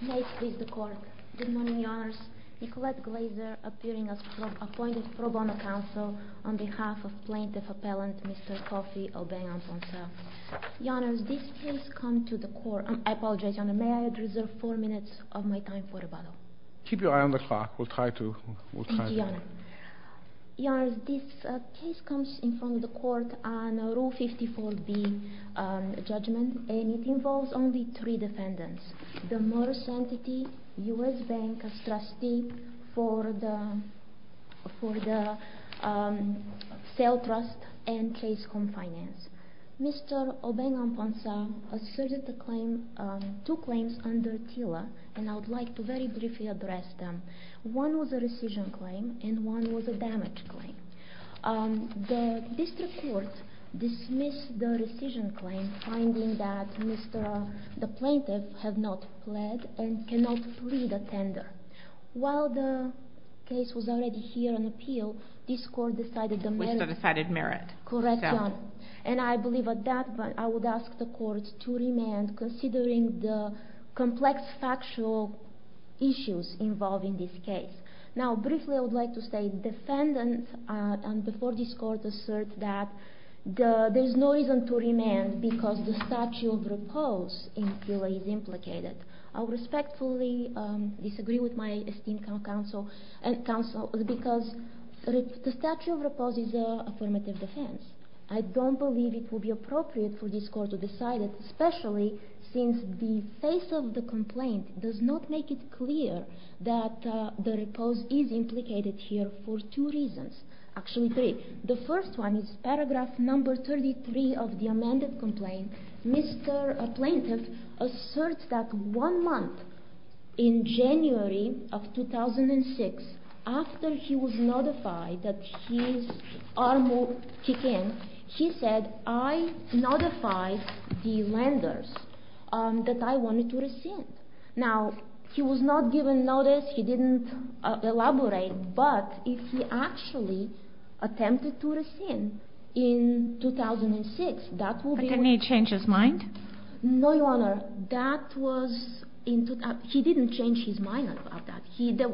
May I please the court? Good morning, Your Honours. Nicolette Glazer, appearing as from appointed pro bono counsel on behalf of plaintiff appellant Mr. Kofi Obeng-Amponsah. Your Honours, this case comes to the court... I apologize, Your Honour. May I reserve four minutes of my time for rebuttal? Keep your eye on the clock. We'll try to... Thank you, Your Honour. Your Honours, this case comes in front of the court on Rule 54b, judgment. And it involves only three defendants. The Morse Entity, U.S. Bank as trustee for the sale trust and Chase Home Finance. Mr. Obeng-Amponsah asserted two claims under TILA and I would like to very briefly address them. One was a rescission claim and one was a damage claim. The district court dismissed the rescission claim finding that the plaintiff had not pled and cannot plead a tender. While the case was already here on appeal, this court decided the merits... Which the decided merit. Correct, Your Honour. And I believe at that point I would ask the court to remand considering the complex factual issues involving this case. Now briefly I would like to say defendants before this court assert that there is no reason to remand because the statute of repose in TILA is implicated. I respectfully disagree with my esteemed counsel because the statute of repose is an affirmative defense. I don't believe it would be appropriate for this court to decide it, especially since the face of the complaint does not make it clear that the repose is implicated here for two reasons. Actually three. The first one is paragraph number 33 of the amended complaint. Mr. Plaintiff asserts that one month in January of 2006, after he was notified that his arm would kick in, he said, I notified the lenders that I wanted to rescind. Now he was not given notice, he didn't elaborate, but if he actually attempted to rescind in 2006, that would be... But didn't he change his mind? No, Your Honour. That was in... He didn't change his mind about that.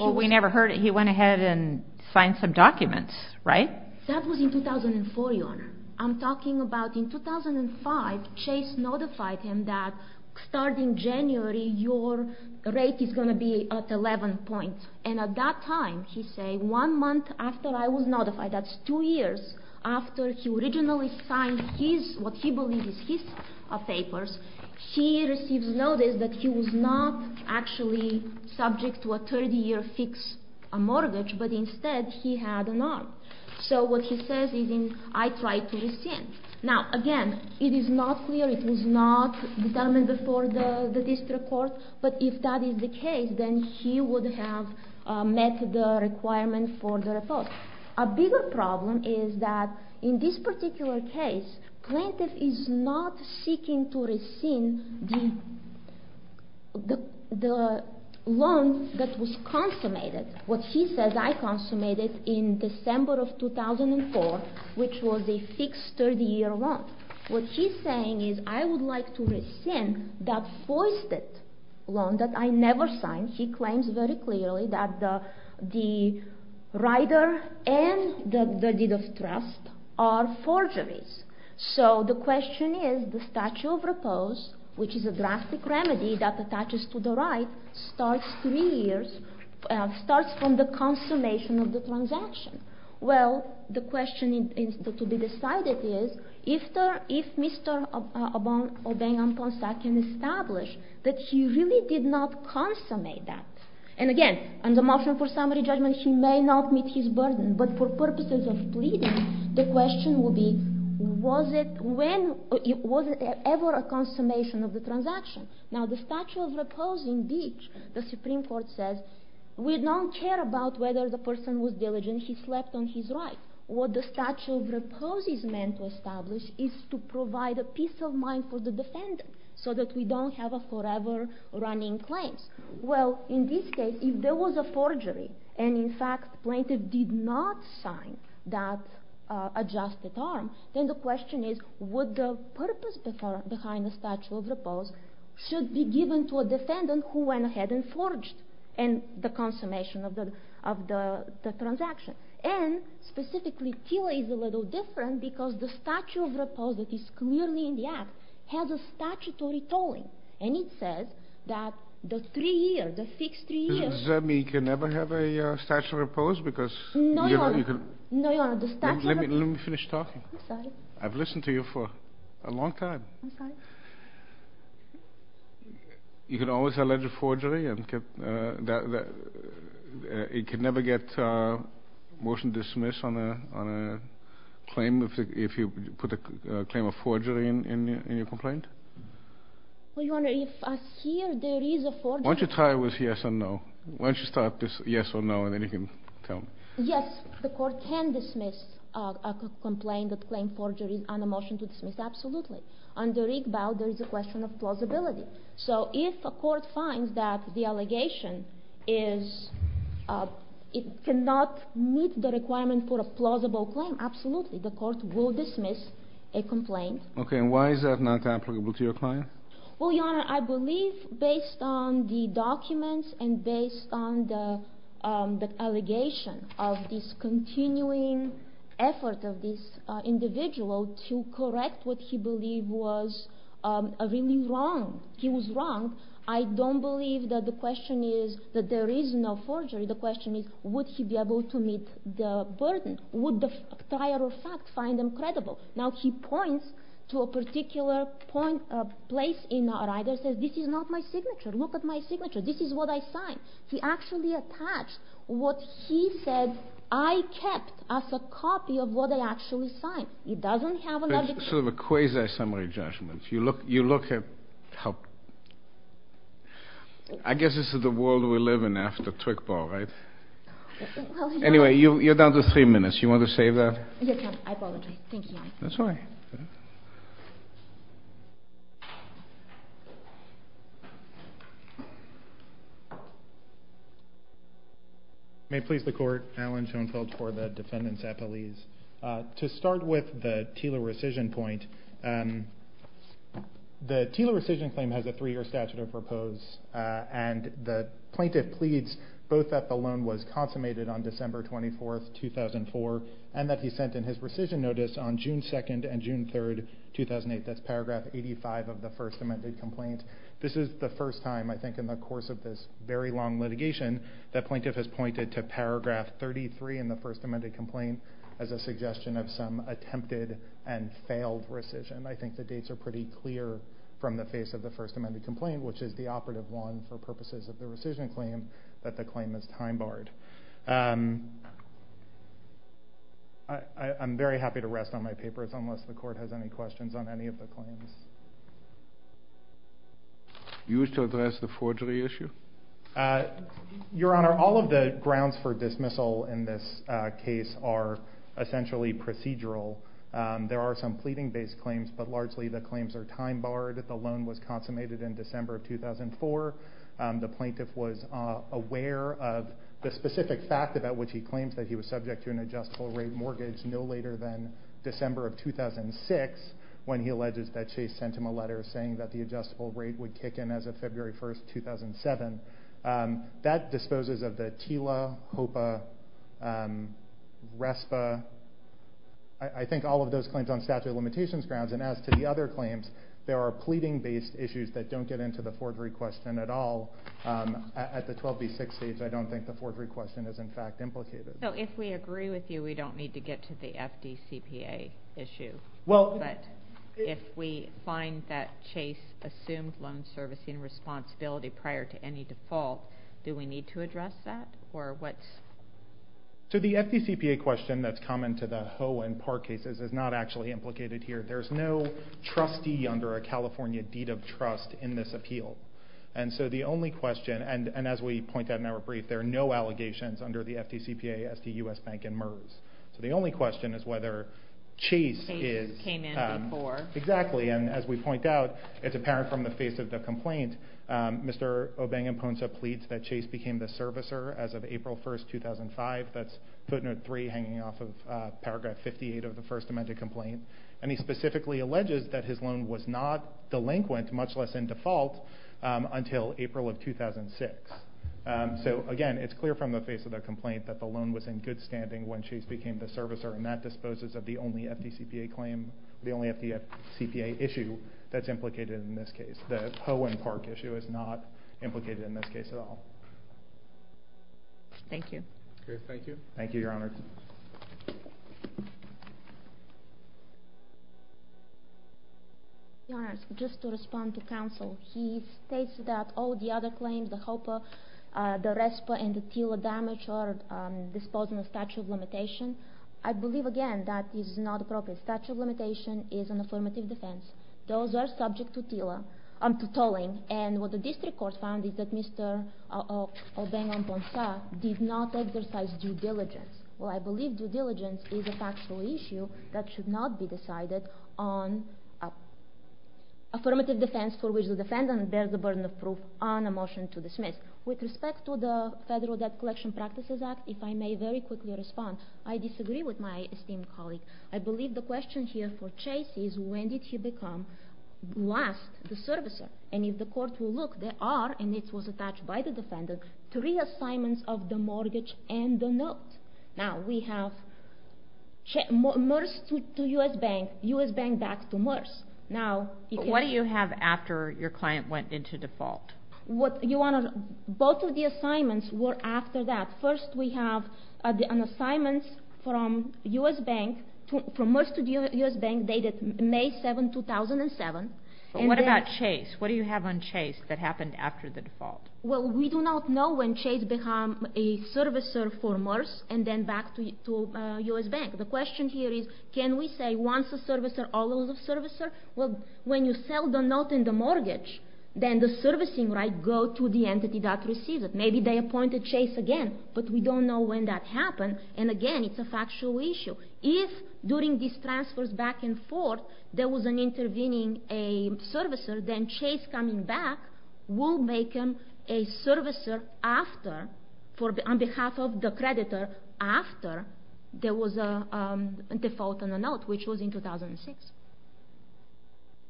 Well, we never heard it. He went ahead and signed some documents, right? That was in 2004, Your Honour. I'm talking about in 2005, Chase notified him that starting January, your rate is going to be at 11 points. And at that time, he said, one month after I was notified, that's two years after he originally signed his... what he believed was his papers, he received notice that he was not actually subject to a 30-year fixed mortgage, but instead he had an arm. So what he says is, I tried to rescind. Now, again, it is not clear, it was not determined before the district court, but if that is the case, then he would have met the requirement for the report. A bigger problem is that in this particular case, Plaintiff is not seeking to rescind the loan that was consummated. What he says, I consummated in December of 2004, which was a fixed 30-year loan. What he's saying is, I would like to rescind that foisted loan that I never signed. He claims very clearly that the rider and the deed of trust are forgeries. So the question is, the statute of repose, which is a drastic remedy that attaches to the ride, starts from the consummation of the transaction. Well, the question to be decided is, if Mr. Obeng-Amponsa can establish that he really did not consummate that. And again, on the motion for summary judgment, he may not meet his burden, but for purposes of pleading, the question will be, was it ever a consummation of the transaction? Now, the statute of repose, indeed, the Supreme Court says, we don't care about whether the person was diligent, he slept on his ride. What the statute of repose is meant to establish is to provide a peace of mind for the defendant, so that we don't have a forever running claim. Well, in this case, if there was a forgery, and in fact, the plaintiff did not sign that adjusted arm, then the question is, would the purpose behind the statute of repose should be given to a defendant who went ahead and forged the consummation of the transaction? And, specifically, Thiele is a little different, because the statute of repose that is clearly in the Act has a statutory tolling, and it says that the three years, the fixed three years. Does that mean you can never have a statute of repose? No, Your Honor. Let me finish talking. I'm sorry. I've listened to you for a long time. I'm sorry. You can always allege a forgery. It could never get a motion to dismiss on a claim if you put a claim of forgery in your complaint? Well, Your Honor, if here there is a forgery. Why don't you tie it with yes or no? Why don't you start this yes or no, and then you can tell me. Yes, the Court can dismiss a complaint that claimed forgery on a motion to dismiss, absolutely. Under Rigbaud, there is a question of plausibility. So if a court finds that the allegation cannot meet the requirement for a plausible claim, absolutely. The Court will dismiss a complaint. Okay. And why is that not applicable to your client? Well, Your Honor, I believe based on the documents and based on the allegation of this continuing effort of this individual to correct what he believed was really wrong. He was wrong. I don't believe that the question is that there is no forgery. The question is, would he be able to meet the burden? Would the entire fact find him credible? Now he points to a particular place in Rider and says, this is not my signature. Look at my signature. This is what I signed. He actually attached what he said I kept as a copy of what I actually signed. It's sort of a quasi-summary judgment. You look at how – I guess this is the world we live in after trick ball, right? Anyway, you're down to three minutes. You want to save that? I apologize. Thank you, Your Honor. That's all right. May it please the Court, Alan Schoenfeld for the defendants' appellees. To start with the Teeler rescission point, the Teeler rescission claim has a three-year statute of repose, and the plaintiff pleads both that the loan was consummated on December 24, 2004, and that he sent in his rescission notice on June 2 and June 3, 2008. That's paragraph 85 of the first amended complaint. This is the first time, I think, in the course of this very long litigation that plaintiff has pointed to paragraph 33 in the first amended complaint as a suggestion of some attempted and failed rescission. I think the dates are pretty clear from the face of the first amended complaint, which is the operative one for purposes of the rescission claim, that the claim is time-barred. I'm very happy to rest on my papers unless the Court has any questions on any of the claims. You wish to address the forgery issue? Your Honor, all of the grounds for dismissal in this case are essentially procedural. There are some pleading-based claims, but largely the claims are time-barred. The loan was consummated in December of 2004. The plaintiff was aware of the specific fact about which he claims that he was subject to an adjustable rate mortgage no later than December of 2006 when he alleges that Chase sent him a letter saying that the adjustable rate would kick in as of February 1, 2007. That disposes of the TILA, HOPA, RESPA, I think all of those claims on statute of limitations grounds. As to the other claims, there are pleading-based issues that don't get into the forgery question at all. At the 12B6 stage, I don't think the forgery question is, in fact, implicated. If we agree with you, we don't need to get to the FDCPA issue. If we find that Chase assumed loan servicing responsibility prior to any default, do we need to address that? The FDCPA question that's common to the HOA and PAR cases is not actually implicated here. There's no trustee under a California deed of trust in this appeal. And so the only question, and as we point out in our brief, there are no allegations under the FDCPA as to U.S. Bank and MERS. So the only question is whether Chase is... Chases came in before. Exactly, and as we point out, it's apparent from the face of the complaint, Mr. Obengamponsa pleads that Chase became the servicer as of April 1, 2005. That's footnote 3 hanging off of paragraph 58 of the first amended complaint. And he specifically alleges that his loan was not delinquent, much less in default, until April of 2006. So, again, it's clear from the face of the complaint that the loan was in good standing when Chase became the servicer, and that disposes of the only FDCPA claim, the only FDCPA issue that's implicated in this case. The HOA and PARC issue is not implicated in this case at all. Thank you. Okay, thank you. Thank you, Your Honor. Your Honor, just to respond to counsel, he states that all the other claims, the HOPA, the RESPA, and the TILA damage are disposed in the statute of limitation. I believe, again, that is not appropriate. Statute of limitation is an affirmative defense. Those are subject to TILA, to tolling. And what the district court found is that Mr. Obengamponsa did not exercise due diligence. Well, I believe due diligence is a factual issue that should not be decided on affirmative defense for which the defendant bears the burden of proof on a motion to dismiss. With respect to the Federal Debt Collection Practices Act, if I may very quickly respond, I disagree with my esteemed colleague. I believe the question here for Chase is when did he become, last, the servicer? And if the court will look, there are, and this was attached by the defendant, three assignments of the mortgage and the note. Now, we have MERS to U.S. Bank, U.S. Bank back to MERS. But what do you have after your client went into default? Both of the assignments were after that. First, we have an assignment from U.S. Bank, from MERS to U.S. Bank dated May 7, 2007. But what about Chase? What do you have on Chase that happened after the default? Well, we do not know when Chase became a servicer for MERS and then back to U.S. Bank. The question here is can we say once a servicer, always a servicer? Well, when you sell the note in the mortgage, then the servicing rights go to the entity that receives it. Maybe they appointed Chase again, but we don't know when that happened. And again, it's a factual issue. If during these transfers back and forth there was an intervening servicer, then Chase coming back will make him a servicer after, on behalf of the creditor, after there was a default on the note, which was in 2006.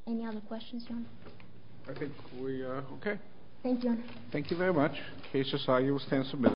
Any other questions, Your Honor? I think we are okay. Thank you, Your Honor. Thank you very much. The case is signed. You will stand submitted.